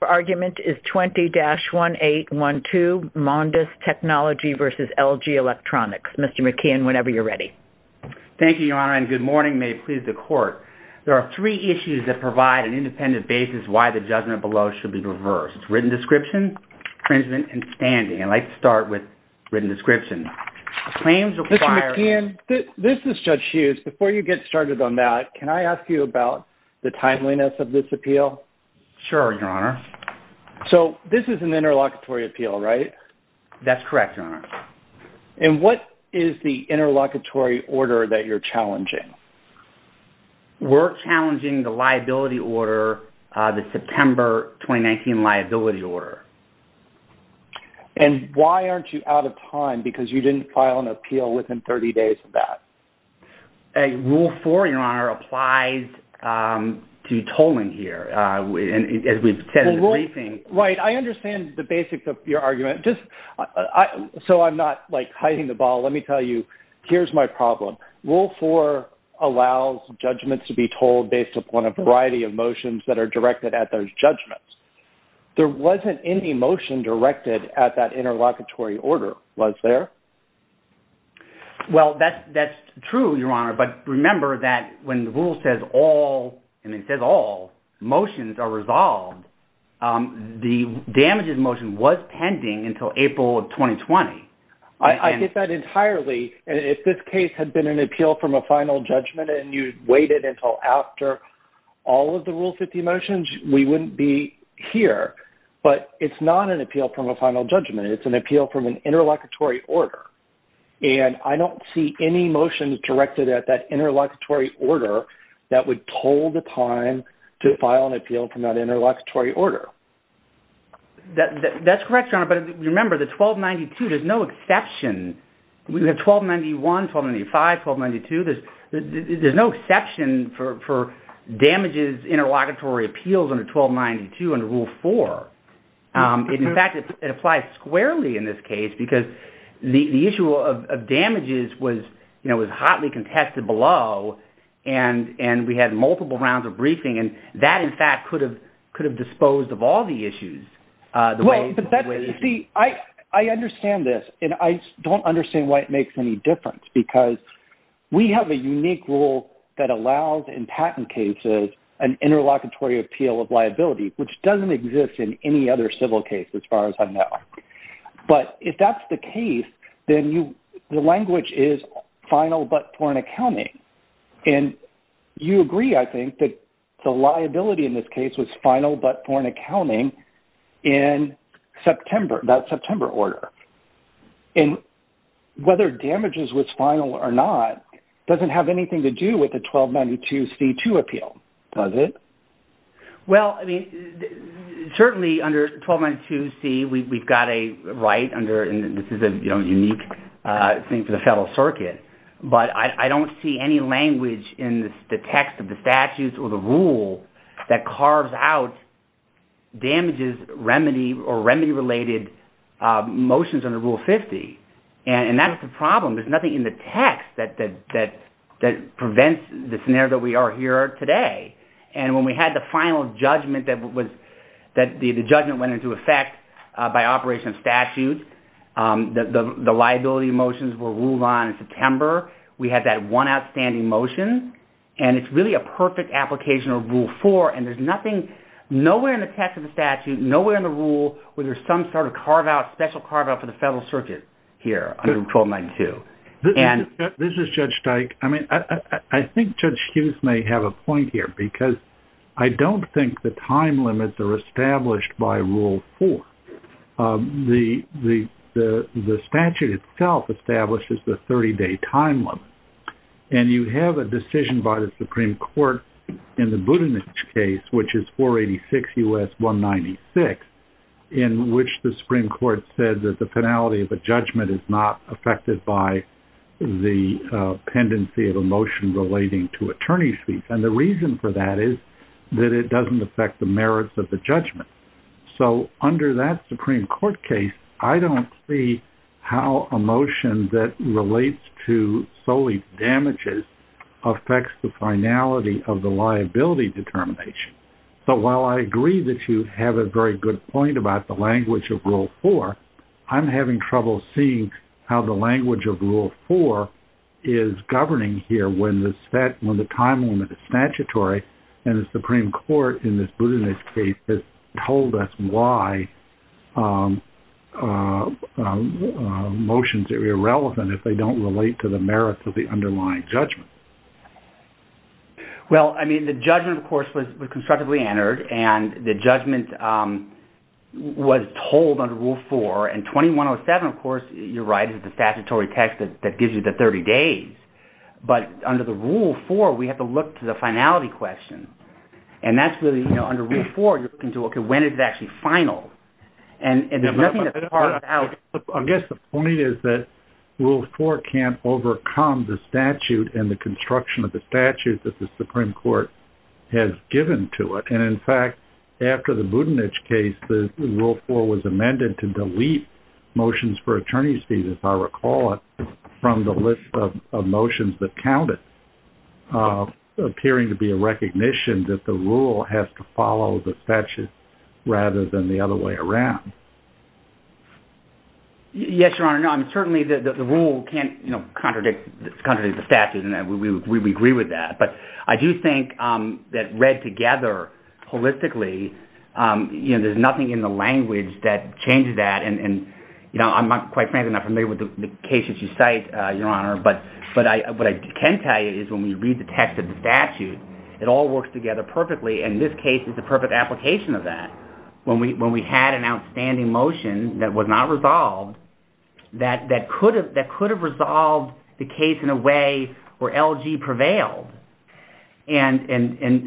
Your argument is 20-1812 Mondis Technology v. LG Electronics. Mr. McKeon, whenever you're ready. Thank you, Your Honor, and good morning. May it please the Court. There are three issues that provide an independent basis why the judgment below should be reversed. Written description, infringement, and standing. I'd like to start with written description. Mr. McKeon, this is Judge Hughes. Before you get started on that, can I ask you about the timeliness of this appeal? Sure, Your Honor. So, this is an interlocutory appeal, right? That's correct, Your Honor. And what is the interlocutory order that you're challenging? We're challenging the liability order, the September 2019 liability order. And why aren't you out of time? Because you didn't file an appeal within 30 days of that. Rule 4, Your Honor, applies to tolling here, as we've said in the briefing. Right. I understand the basics of your argument. Just so I'm not, like, hiding the ball, let me tell you, here's my problem. Rule 4 allows judgments to be tolled based upon a variety of motions that are directed at those judgments. There wasn't any motion directed at that interlocutory order, was there? Well, that's true, Your Honor. But remember that when the rule says all motions are resolved, the damages motion was pending until April of 2020. I get that entirely. And if this case had been an appeal from a final judgment and you waited until after all of the Rule 50 motions, we wouldn't be here. But it's not an appeal from a final judgment. It's an appeal from an interlocutory order. And I don't see any motions directed at that interlocutory order that would toll the time to file an appeal from that interlocutory order. That's correct, Your Honor. But remember, the 1292, there's no exception. We have 1291, 1295, 1292. There's no exception for damages interlocutory appeals under 1292 under Rule 4. In fact, it applies squarely in this case because the issue of damages was, you know, was hotly contested below. And we had multiple rounds of briefing. And that, in fact, could have disposed of all the issues. See, I understand this. And I don't understand why it makes any difference because we have a unique rule that allows in patent cases an interlocutory appeal of liability, which doesn't exist in any other civil case as far as I know. But if that's the case, then the language is final but foreign accounting. And you agree, I think, that the liability in this case was final but foreign accounting in September, that September order. And whether damages was final or not doesn't have anything to do with the 1292C2 appeal, does it? Well, I mean, certainly under 1292C, we've got a right under, and this is a unique thing for the Federal Circuit. But I don't see any language in the text of the statutes or the rule that carves out damages remedy or remedy-related motions under Rule 50. And that's the problem. There's nothing in the text that prevents the scenario that we are here today. And when we had the final judgment that the judgment went into effect by operation of statute, the liability motions were ruled on in September. We had that one outstanding motion. And it's really a perfect application of Rule 4. And there's nothing, nowhere in the text of the statute, nowhere in the rule, where there's some sort of carve-out, special carve-out for the Federal Circuit here under 1292. This is Judge Dyke. I mean, I think Judge Hughes may have a point here, because I don't think the time limits are established by Rule 4. The statute itself establishes the 30-day time limit. And you have a decision by the Supreme Court in the Budenich case, which is 486 U.S. 196, in which the Supreme Court said that the finality of a judgment is not affected by the pendency of a motion relating to attorney's fees. And the reason for that is that it doesn't affect the merits of the judgment. So under that Supreme Court case, I don't see how a motion that relates to solely damages affects the finality of the liability determination. But while I agree that you have a very good point about the language of Rule 4, I'm having trouble seeing how the language of Rule 4 is governing here when the time limit is statutory and the Supreme Court in this Budenich case has told us why motions are irrelevant if they don't relate to the merits of the underlying judgment. Well, I mean, the judgment, of course, was constructively entered, and the judgment was told under Rule 4. And 2107, of course, you're right, is the statutory text that gives you the 30 days. But under the Rule 4, we have to look to the finality question. And that's really, you know, under Rule 4, you're looking to, okay, when is it actually final? I guess the point is that Rule 4 can't overcome the statute and the construction of the statute that the Supreme Court has given to it. And, in fact, after the Budenich case, Rule 4 was amended to delete motions for attorney's fees, if I recall it, from the list of motions that counted, appearing to be a recognition that the rule has to follow the statute rather than the other way around. Yes, Your Honor. No, I mean, certainly the rule can't, you know, contradict the statute, and we agree with that. But I do think that read together holistically, you know, there's nothing in the language that changes that. And, you know, I'm quite frankly not familiar with the cases you cite, Your Honor. But what I can tell you is when we read the text of the statute, it all works together perfectly, and this case is the perfect application of that. When we had an outstanding motion that was not resolved, that could have resolved the case in a way where LG prevailed, and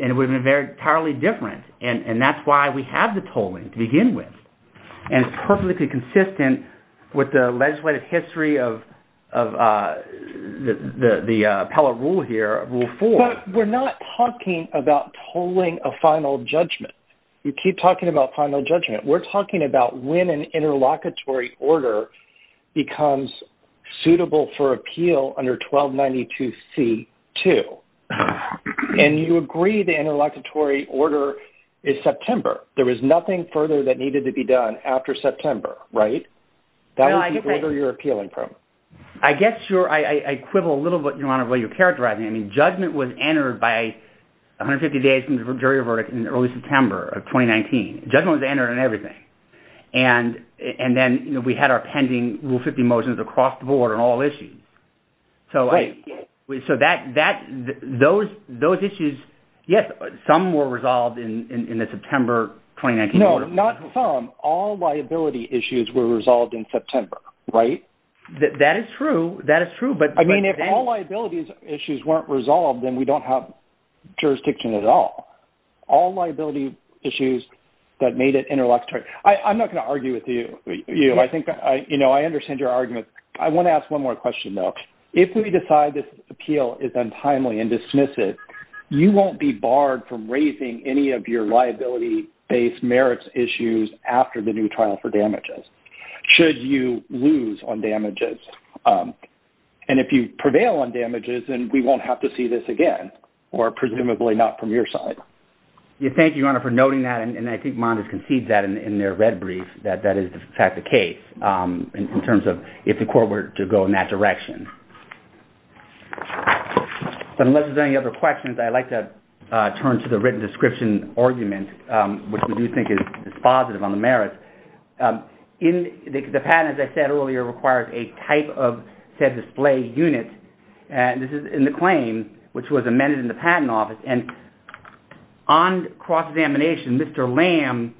it would have been entirely different. And that's why we have the tolling to begin with. And it's perfectly consistent with the legislative history of the appellate rule here, Rule 4. But we're not talking about tolling a final judgment. We keep talking about final judgment. We're talking about when an interlocutory order becomes suitable for appeal under 1292C-2. And you agree the interlocutory order is September. There was nothing further that needed to be done after September, right? No, I disagree. That would be further your appealing program. I guess I quibble a little bit, Your Honor, about your characterizing. I mean, judgment was entered by 150 days from the jury verdict in early September of 2019. Judgment was entered on everything. And then, you know, we had our pending Rule 50 motions across the board on all issues. Right. So those issues, yes, some were resolved in the September 2019 order. No, not some. All liability issues were resolved in September, right? That is true. That is true. I mean, if all liability issues weren't resolved, then we don't have jurisdiction at all. All liability issues that made it interlocutory. I'm not going to argue with you. I think, you know, I understand your argument. I want to ask one more question, though. If we decide this appeal is untimely and dismiss it, you won't be barred from raising any of your liability-based merits issues after the new trial for damages. Should you lose on damages? And if you prevail on damages, then we won't have to see this again, or presumably not from your side. Thank you, Your Honor, for noting that. And I think Mondes conceded that in their red brief, that that is in fact the case in terms of if the court were to go in that direction. But unless there's any other questions, I'd like to turn to the written description argument, which we do think is positive on the merits. The patent, as I said earlier, requires a type of said display unit. And this is in the claim, which was amended in the Patent Office. And on cross-examination, Mr. Lamb,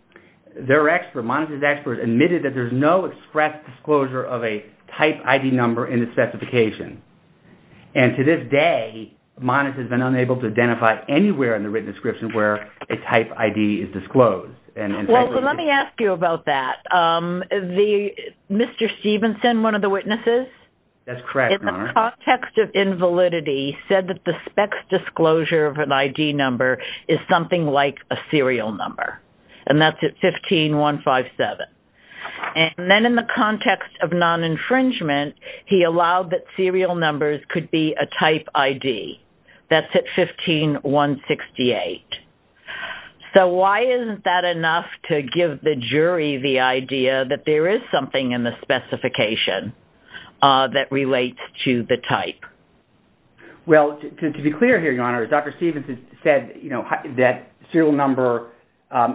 their expert, Mondes' expert, admitted that there's no express disclosure of a type ID number in the specification. And to this day, Mondes has been unable to identify anywhere in the written description where a type ID is disclosed. Well, let me ask you about that. Mr. Stevenson, one of the witnesses? That's correct, Your Honor. In the context of invalidity, said that the specs disclosure of an ID number is something like a serial number. And that's at 15157. And then in the context of non-infringement, he allowed that serial numbers could be a type ID. That's at 15168. So why isn't that enough to give the jury the idea that there is something in the specification that relates to the type? Well, to be clear here, Your Honor, Dr. Stevenson said, you know, that serial number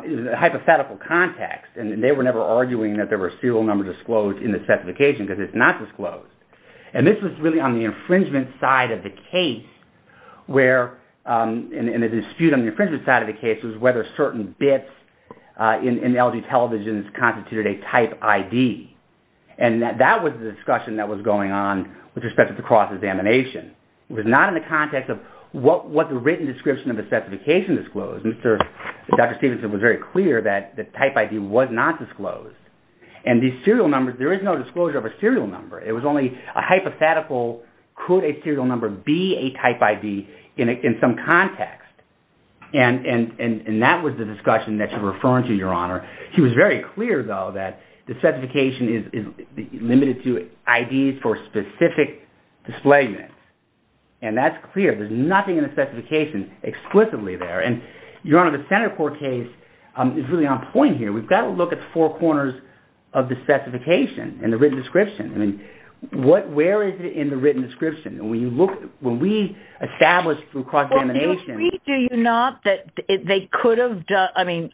is a hypothetical context. And they were never arguing that there were serial numbers disclosed in the specification because it's not disclosed. And this was really on the infringement side of the case where, and the dispute on the infringement side of the case, was whether certain bits in LG televisions constituted a type ID. And that was the discussion that was going on with respect to the cross-examination. It was not in the context of what the written description of the specification disclosed. Dr. Stevenson was very clear that the type ID was not disclosed. And these serial numbers, there is no disclosure of a serial number. It was only a hypothetical, could a serial number be a type ID in some context? And that was the discussion that you're referring to, Your Honor. He was very clear, though, that the specification is limited to IDs for specific displacements. And that's clear. There's nothing in the specification explicitly there. And, Your Honor, the Senate court case is really on point here. We've got to look at the four corners of the specification and the written description. I mean, where is it in the written description? When we established through cross-examination— Well, do you agree, do you not, that they could have—I mean,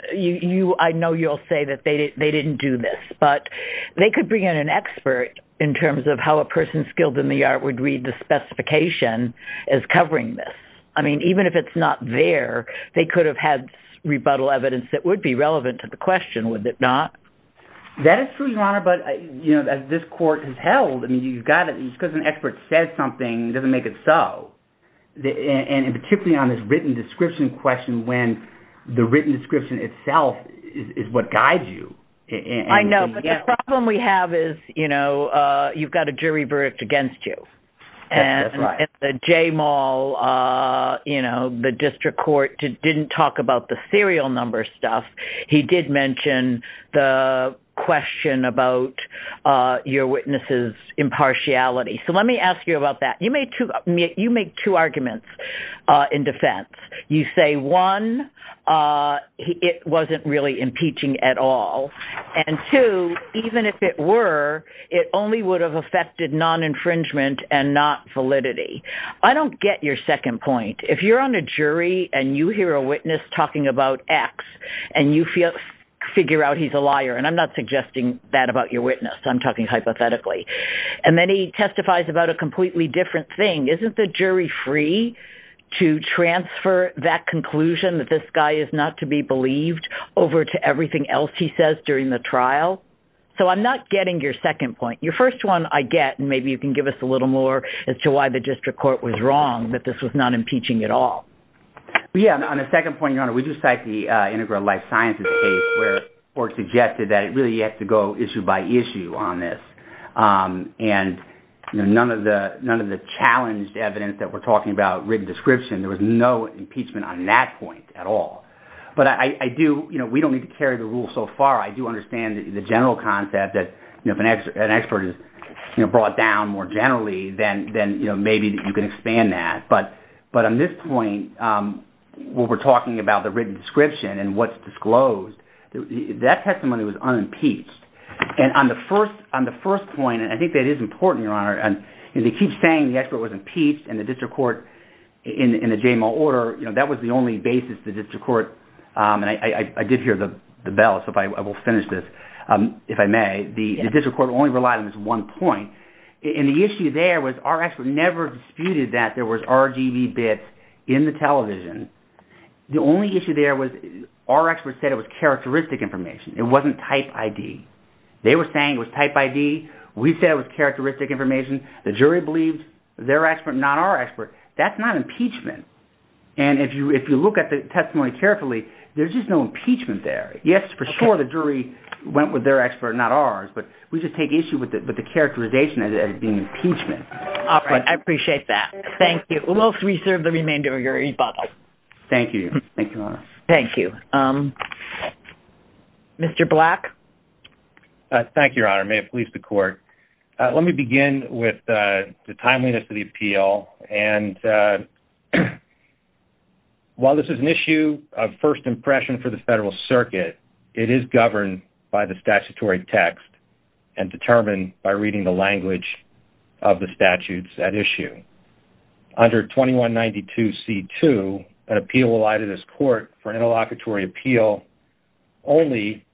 I know you'll say that they didn't do this. But they could bring in an expert in terms of how a person skilled in the art would read the specification as covering this. I mean, even if it's not there, they could have had rebuttal evidence that would be relevant to the question, would it not? That is true, Your Honor, but, you know, as this court has held, I mean, you've got to—because an expert says something, it doesn't make it so. And particularly on this written description question when the written description itself is what guides you. I know, but the problem we have is, you know, you've got a jury verdict against you. That's right. At the J-Mall, you know, the district court didn't talk about the serial number stuff. He did mention the question about your witness's impartiality. So let me ask you about that. You made two arguments in defense. You say, one, it wasn't really impeaching at all, and two, even if it were, it only would have affected non-infringement and not validity. I don't get your second point. If you're on a jury and you hear a witness talking about X and you figure out he's a liar, and I'm not suggesting that about your witness. I'm talking hypothetically. And then he testifies about a completely different thing. Isn't the jury free to transfer that conclusion that this guy is not to be believed over to everything else he says during the trial? So I'm not getting your second point. Your first one I get, and maybe you can give us a little more as to why the district court was wrong that this was not impeaching at all. Yeah, on the second point, Your Honor, we just cite the Integral Life Sciences case where it was suggested that it really had to go issue by issue on this. And none of the challenged evidence that we're talking about, written description, there was no impeachment on that point at all. But we don't need to carry the rule so far. I do understand the general concept that if an expert is brought down more generally, then maybe you can expand that. But on this point, when we're talking about the written description and what's disclosed, that testimony was unimpeached. And on the first point, and I think that is important, Your Honor, and they keep saying the expert was impeached and the district court in the JMO order, that was the only basis the district court – and I did hear the bell, so I will finish this, if I may. The district court only relied on this one point. And the issue there was our expert never disputed that there was RGB bits in the television. The only issue there was our expert said it was characteristic information. It wasn't type ID. They were saying it was type ID. We said it was characteristic information. The jury believed their expert, not our expert. That's not impeachment. And if you look at the testimony carefully, there's just no impeachment there. Yes, for sure, the jury went with their expert, not ours. But we just take issue with the characterization as it being impeachment. All right. I appreciate that. Thank you. We'll reserve the remainder of your e-box. Thank you. Thank you, Your Honor. Thank you. Mr. Black? Thank you, Your Honor. May it please the court. Let me begin with the timeliness of the appeal. And while this is an issue of first impression for the federal circuit, it is governed by the statutory text and determined by reading the language of the statutes at issue. Under 2192C2, an appeal will lie to this court for an interlocutory appeal only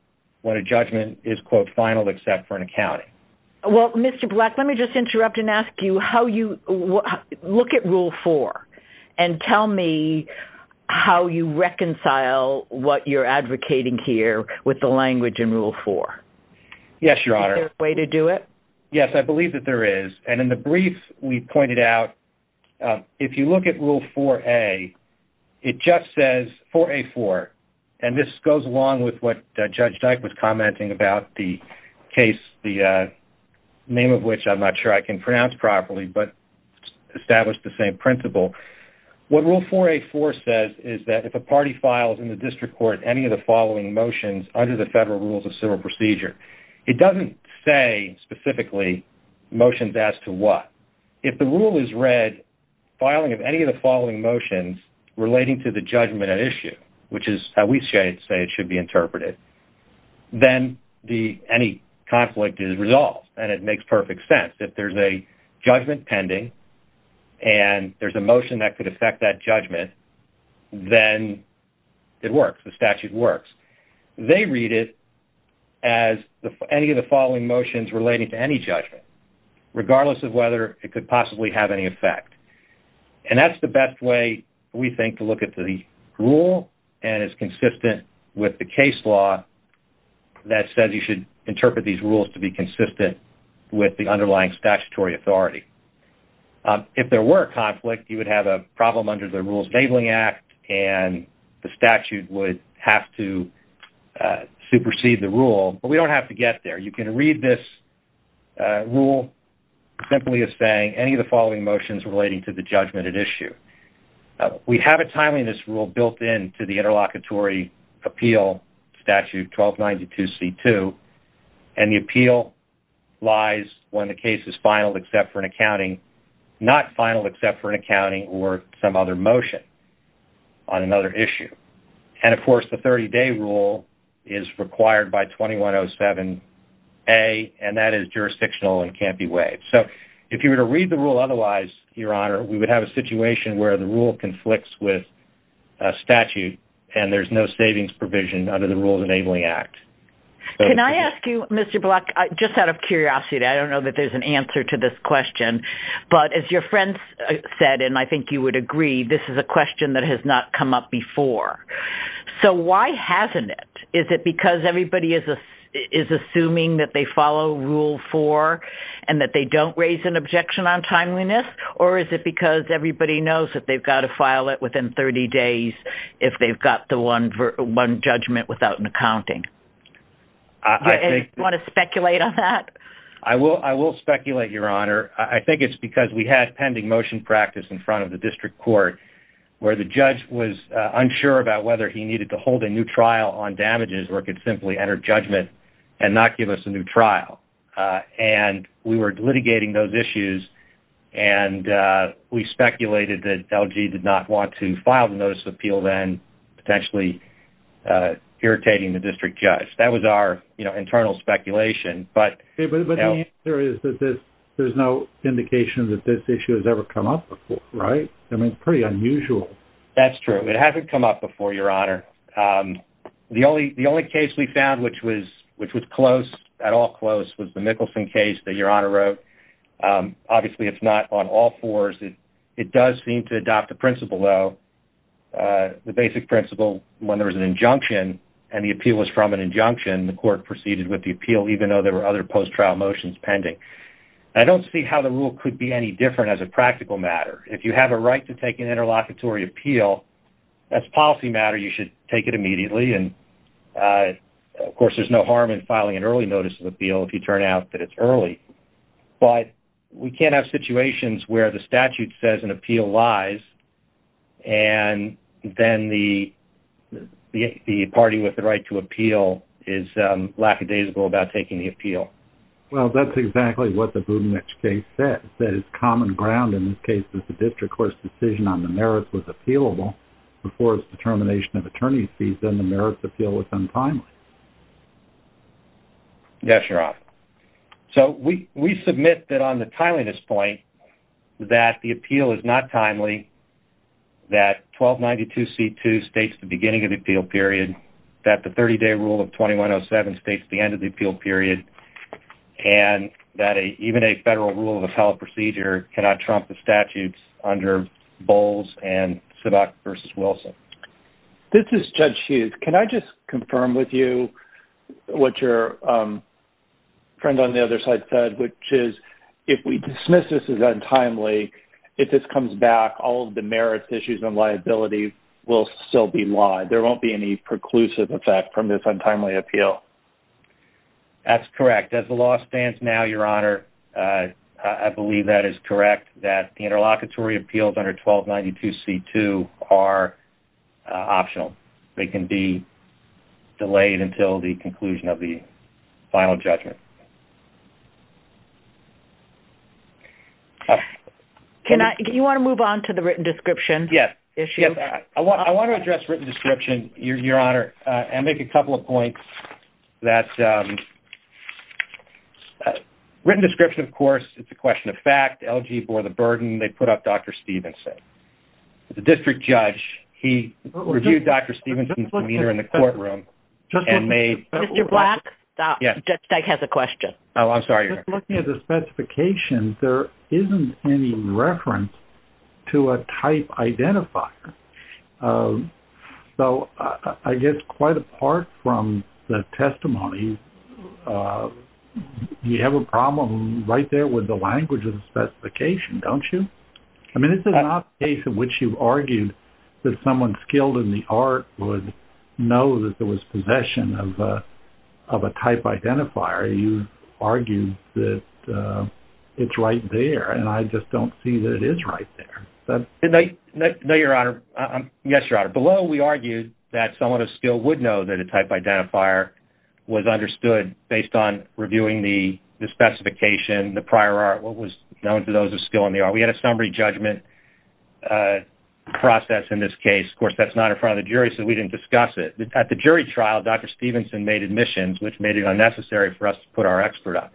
when a judgment is, quote, final except for an accounting. Well, Mr. Black, let me just interrupt and ask you how you look at Rule 4 and tell me how you reconcile what you're advocating here with the language in Rule 4. Yes, Your Honor. Is there a way to do it? Yes, I believe that there is. And in the brief we pointed out, if you look at Rule 4A, it just says, 4A4, and this goes along with what Judge Dyke was commenting about the case, the name of which I'm not sure I can pronounce properly, but established the same principle. What Rule 4A4 says is that if a party files in the district court any of the following motions under the federal rules of civil procedure, it doesn't say specifically motions as to what. If the rule is read, filing of any of the following motions relating to the judgment at issue, which is how we say it should be interpreted, then any conflict is resolved, and it makes perfect sense. If there's a judgment pending and there's a motion that could affect that judgment, then it works. The statute works. They read it as any of the following motions relating to any judgment, regardless of whether it could possibly have any effect. And that's the best way, we think, to look at the rule and is consistent with the case law that says you should interpret these rules to be consistent with the underlying statutory authority. If there were a conflict, you would have a problem under the Rules Enabling Act, and the statute would have to supersede the rule, but we don't have to get there. You can read this rule simply as saying any of the following motions relating to the judgment at issue. We have a timeliness rule built into the Interlocutory Appeal Statute 1292C2, and the appeal lies when the case is final except for an accounting, not final except for an accounting or some other motion on another issue. And, of course, the 30-day rule is required by 2107A, and that is jurisdictional and can't be waived. So if you were to read the rule otherwise, Your Honor, we would have a situation where the rule conflicts with statute and there's no savings provision under the Rules Enabling Act. Can I ask you, Mr. Block, just out of curiosity, I don't know that there's an answer to this question, but as your friend said, and I think you would agree, this is a question that has not come up before. So why hasn't it? Is it because everybody is assuming that they follow Rule 4 and that they don't raise an objection on timeliness, or is it because everybody knows that they've got to file it within 30 days if they've got the one judgment without an accounting? Do you want to speculate on that? I will speculate, Your Honor. I think it's because we had pending motion practice in front of the district court where the judge was unsure about whether he needed to hold a new trial on damages or could simply enter judgment and not give us a new trial. And we were litigating those issues, and we speculated that LG did not want to file the Notice of Appeal then, potentially irritating the district judge. That was our internal speculation. But the answer is that there's no indication that this issue has ever come up before, right? I mean, it's pretty unusual. That's true. It hasn't come up before, Your Honor. The only case we found which was close, at all close, was the Mickelson case that Your Honor wrote. Obviously, it's not on all fours. It does seem to adopt a principle, though. The basic principle, when there was an injunction and the appeal was from an injunction, the court proceeded with the appeal even though there were other post-trial motions pending. I don't see how the rule could be any different as a practical matter. If you have a right to take an interlocutory appeal, that's policy matter. You should take it immediately. Of course, there's no harm in filing an early Notice of Appeal if you turn out that it's early. But we can't have situations where the statute says an appeal lies, and then the party with the right to appeal is lackadaisical about taking the appeal. Well, that's exactly what the Budenich case says. That it's common ground in this case that the district court's decision on the merits was appealable before its determination of attorney's fees, and the merits appeal was untimely. Yes, Your Honor. So we submit that on the timeliness point that the appeal is not timely, that 1292C2 states the beginning of the appeal period, that the 30-day rule of 2107 states the end of the appeal period, and that even a federal rule of appellate procedure cannot trump the statutes under Bowles and Sedok v. Wilson. This is Judge Hughes. Can I just confirm with you what your friend on the other side said, which is if we dismiss this as untimely, if this comes back, all of the merits issues and liability will still be lied. There won't be any preclusive effect from this untimely appeal. That's correct. As the law stands now, Your Honor, I believe that is correct, that the interlocutory appeals under 1292C2 are optional. They can be delayed until the conclusion of the final judgment. Do you want to move on to the written description issue? Yes. I want to address written description, Your Honor, and make a couple of points. Written description, of course, it's a question of fact. LG bore the burden. They put up Dr. Stephenson. The district judge, he reviewed Dr. Stephenson's demeanor in the courtroom and made... Mr. Black, Judge Dyke has a question. Oh, I'm sorry, Your Honor. Looking at the specifications, there isn't any reference to a type identifier. So I guess quite apart from the testimony, you have a problem right there with the language of the specification, don't you? I mean, this is not a case in which you've argued that someone skilled in the art would know that there was possession of a type identifier. You've argued that it's right there, and I just don't see that it is right there. No, Your Honor. Yes, Your Honor. Below, we argued that someone of skill would know that a type identifier was understood based on reviewing the specification, the prior art, what was known to those of skill in the art. We had a summary judgment process in this case. Of course, that's not in front of the jury, so we didn't discuss it. At the jury trial, Dr. Stephenson made admissions, which made it unnecessary for us to put our expert on.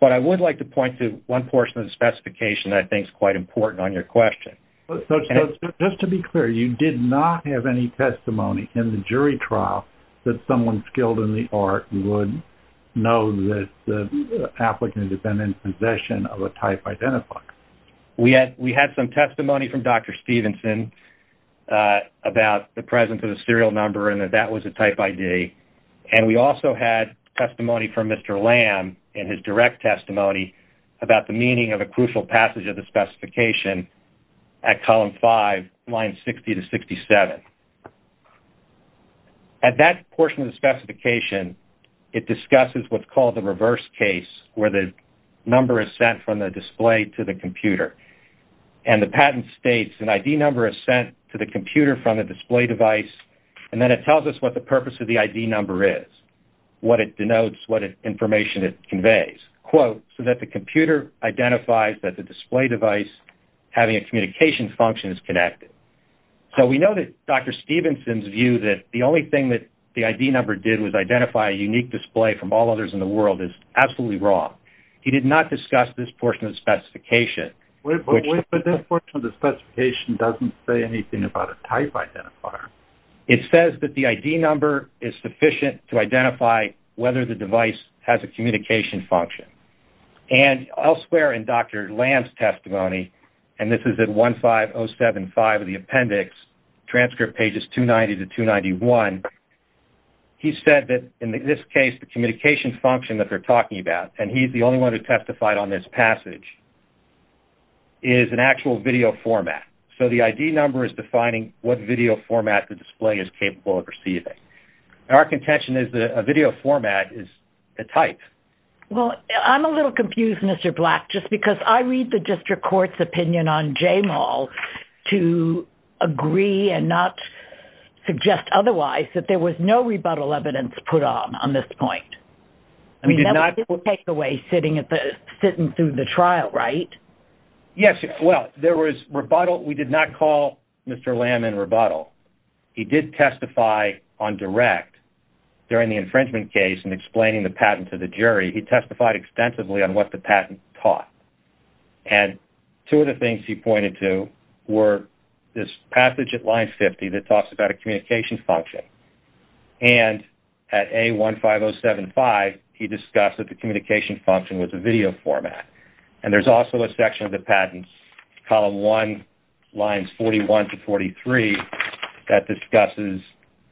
But I would like to point to one portion of the specification that I think is quite important on your question. Just to be clear, you did not have any testimony in the jury trial that someone skilled in the art would know that the applicant had been in possession of a type identifier. We had some testimony from Dr. Stephenson about the presence of a serial number and that that was a type ID. We also had testimony from Mr. Lamb in his direct testimony about the meaning of a crucial passage of the specification at column 5, lines 60 to 67. At that portion of the specification, it discusses what's called the reverse case, where the number is sent from the display to the computer. The patent states, an ID number is sent to the computer from a display device, and then it tells us what the purpose of the ID number is, what it denotes, what information it conveys. Quote, so that the computer identifies that the display device having a communication function is connected. We know that Dr. Stephenson's view that the only thing that the ID number did was identify a unique display from all others in the world is absolutely wrong. He did not discuss this portion of the specification. But this portion of the specification doesn't say anything about a type identifier. It says that the ID number is sufficient to identify whether the device has a communication function. And elsewhere in Dr. Lamb's testimony, and this is at 15075 of the appendix, transcript pages 290 to 291, he said that in this case, the communication function that they're talking about, and he's the only one who testified on this passage, is an actual video format. So the ID number is defining what video format the display is capable of receiving. Our contention is that a video format is a type. Well, I'm a little confused, Mr. Black, just because I read the district court's opinion on Jamal to agree and not suggest otherwise, that there was no rebuttal evidence put on on this point. We did not take away sitting through the trial, right? Yes, well, there was rebuttal. We did not call Mr. Lamb in rebuttal. He did testify on direct during the infringement case in explaining the patent to the jury. He testified extensively on what the patent taught. And two of the things he pointed to were this passage at line 50 that talks about a communication function. And at A15075, he discussed that the communication function was a video format. And there's also a section of the patent, column one, lines 41 to 43, that discusses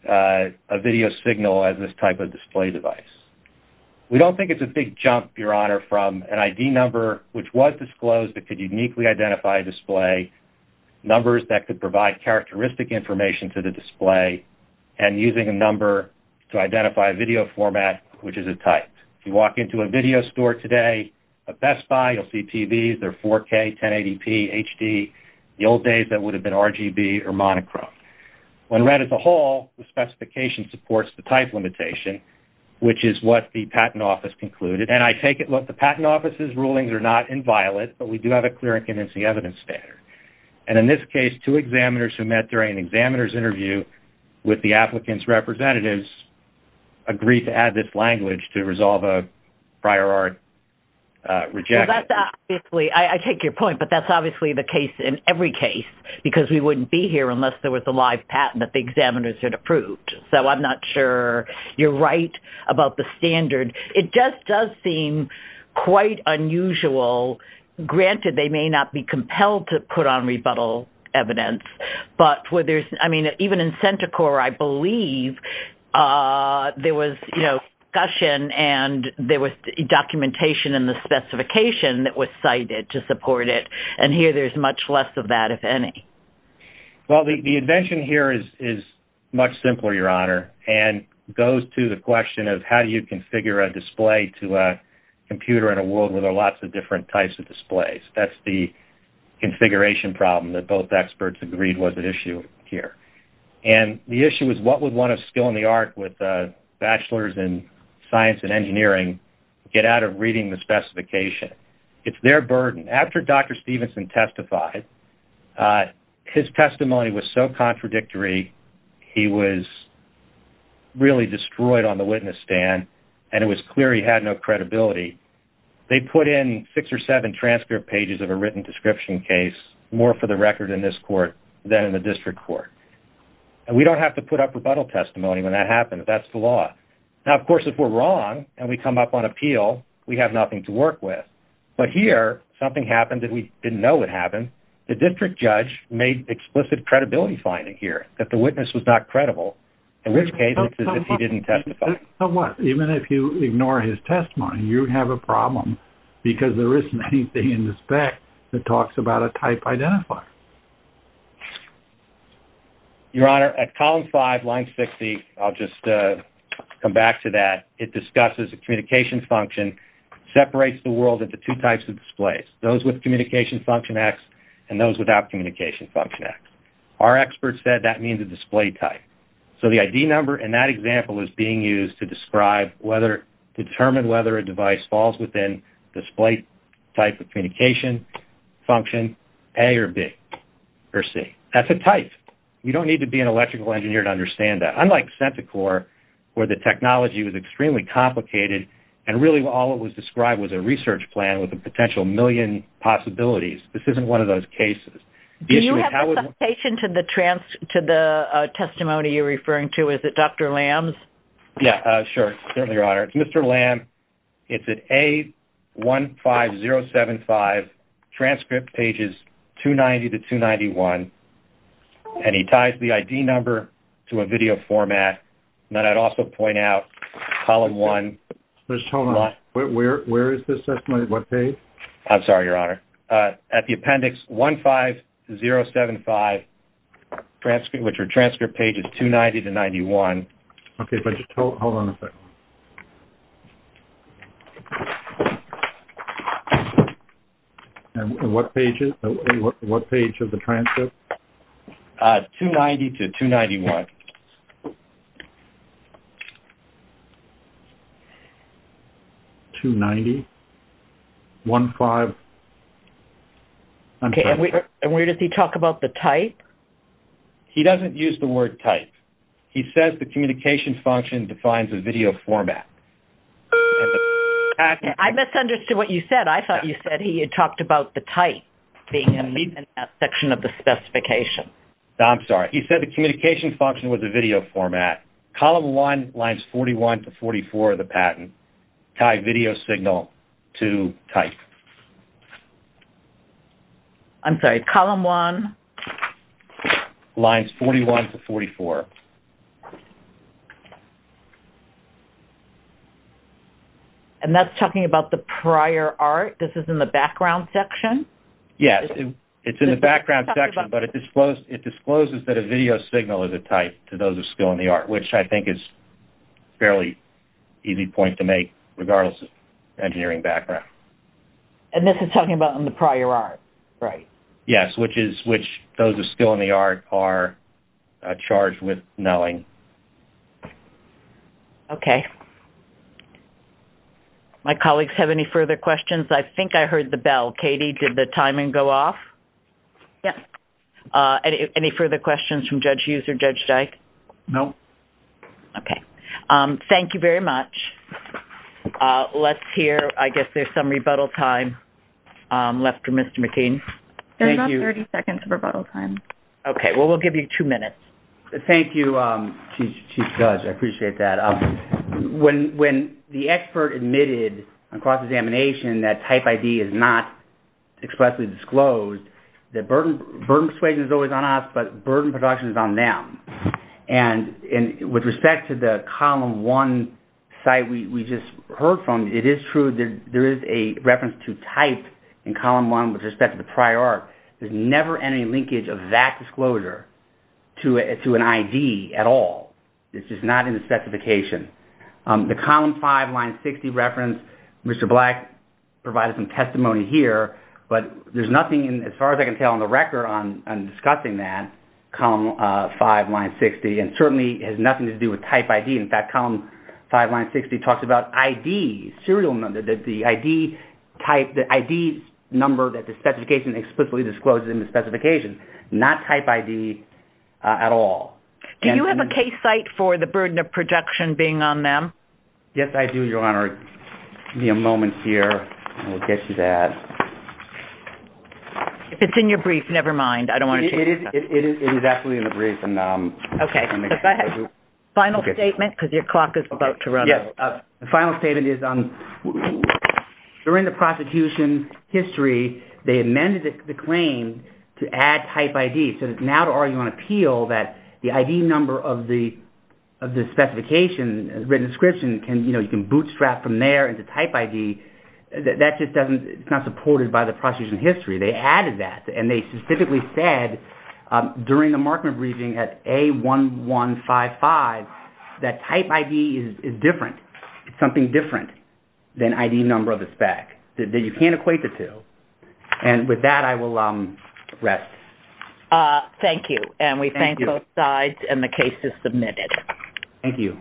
a video signal as this type of display device. We don't think it's a big jump, Your Honor, from an ID number which was disclosed that could uniquely identify a display, numbers that could provide characteristic information to the display, and using a number to identify a video format which is a type. If you walk into a video store today, a Best Buy, you'll see TVs. They're 4K, 1080p, HD. In the old days, that would have been RGB or monochrome. When read as a whole, the specification supports the type limitation, which is what the Patent Office concluded. And I take it, look, the Patent Office's rulings are not inviolate, but we do have a clear and convincing evidence standard. And in this case, two examiners who met during an examiner's interview with the applicant's representatives agreed to add this language to resolve a prior art rejection. I take your point, but that's obviously the case in every case because we wouldn't be here unless there was a live patent that the examiners had approved. So I'm not sure you're right about the standard. It just does seem quite unusual. Granted, they may not be compelled to put on rebuttal evidence, but even in CentiCorps, I believe, there was discussion and there was documentation in the specification that was cited to support it. And here, there's much less of that, if any. Well, the invention here is much simpler, Your Honor, and goes to the question of how do you configure a display to a computer in a world where there are lots of different types of displays? That's the configuration problem that both experts agreed was at issue here. And the issue is what would one of skill in the art with a bachelor's in science and engineering get out of reading the specification? It's their burden. After Dr. Stevenson testified, his testimony was so contradictory, he was really destroyed on the witness stand, and it was clear he had no credibility. They put in six or seven transcript pages of a written description case, more for the record in this court than in the district court. And we don't have to put up rebuttal testimony when that happens. That's the law. Now, of course, if we're wrong and we come up on appeal, we have nothing to work with. But here, something happened that we didn't know would happen. The district judge made explicit credibility finding here that the witness was not credible, in which case it's as if he didn't testify. Even if you ignore his testimony, you'd have a problem because there isn't anything in the spec that talks about a type identifier. Your Honor, at column five, line 60, I'll just come back to that, it discusses a communication function, separates the world into two types of displays, those with communication function X and those without communication function X. Our experts said that means a display type. So the ID number in that example is being used to determine whether a device falls within the display type of communication function A or B or C. That's a type. You don't need to be an electrical engineer to understand that. Unlike CentiCorps, where the technology was extremely complicated and really all it was described was a research plan with a potential million possibilities, this isn't one of those cases. Do you have a citation to the testimony you're referring to? Is it Dr. Lamb's? Yeah, sure, certainly, Your Honor. It's Mr. Lamb. It's at A15075, transcript pages 290 to 291, and he ties the ID number to a video format that I'd also point out, column one. Hold on. Where is this testimony? What page? I'm sorry, Your Honor. At the appendix 15075, which are transcript pages 290 to 91. Okay, but just hold on a second. What page of the transcript? 290 to 291. 290, 15. Okay, and where does he talk about the type? He doesn't use the word type. He says the communications function defines a video format. I misunderstood what you said. I thought you said he had talked about the type being in that section of the specification. He said the communications function was a video format. Column one, lines 41 to 44 of the patent, tied video signal to type. I'm sorry, column one? Lines 41 to 44. And that's talking about the prior art? This is in the background section? Yes, it's in the background section, but it discloses that a video signal is a type to those of skill in the art, which I think is a fairly easy point to make, regardless of engineering background. And this is talking about in the prior art, right? Yes, which those of skill in the art are charged with knowing. Okay. I think I heard the bell. Katie, did the timing go off? Yes. Any further questions from Judge Hughes or Judge Dyke? No. Okay. Thank you very much. Let's hear, I guess there's some rebuttal time left for Mr. McKean. There's about 30 seconds of rebuttal time. Okay. Well, we'll give you two minutes. Thank you, Chief Judge. I appreciate that. When the expert admitted on cross-examination that type ID is not expressly disclosed, the burden persuasion is always on us, but burden production is on them. And with respect to the column one site we just heard from, it is true that there is a reference to type in column one with respect to the prior art. There's never any linkage of that disclosure to an ID at all. It's just not in the specification. The column five, line 60 reference, Mr. Black provided some testimony here, but there's nothing as far as I can tell on the record on discussing that, column five, line 60, and certainly has nothing to do with type ID. In fact, column five, line 60, talks about ID, serial number, the ID number that the specification explicitly discloses in the specification, not type ID at all. Do you have a case site for the burden of production being on them? Yes, I do, Your Honor. Give me a moment here and we'll get to that. If it's in your brief, never mind. I don't want to change that. It is actually in the brief. Okay. Go ahead. Final statement because your clock is about to run out. Yes. The final statement is during the prosecution's history, they amended the claim to add type ID. So now to argue on appeal that the ID number of the specification, written description, you can bootstrap from there into type ID, that just doesn't, it's not supported by the prosecution's history. They added that and they specifically said during the Markman briefing at A1155 that type ID is different, something different than ID number of the spec, that you can't equate the two. And with that, I will rest. Thank you. And we thank both sides and the case is submitted. Thank you.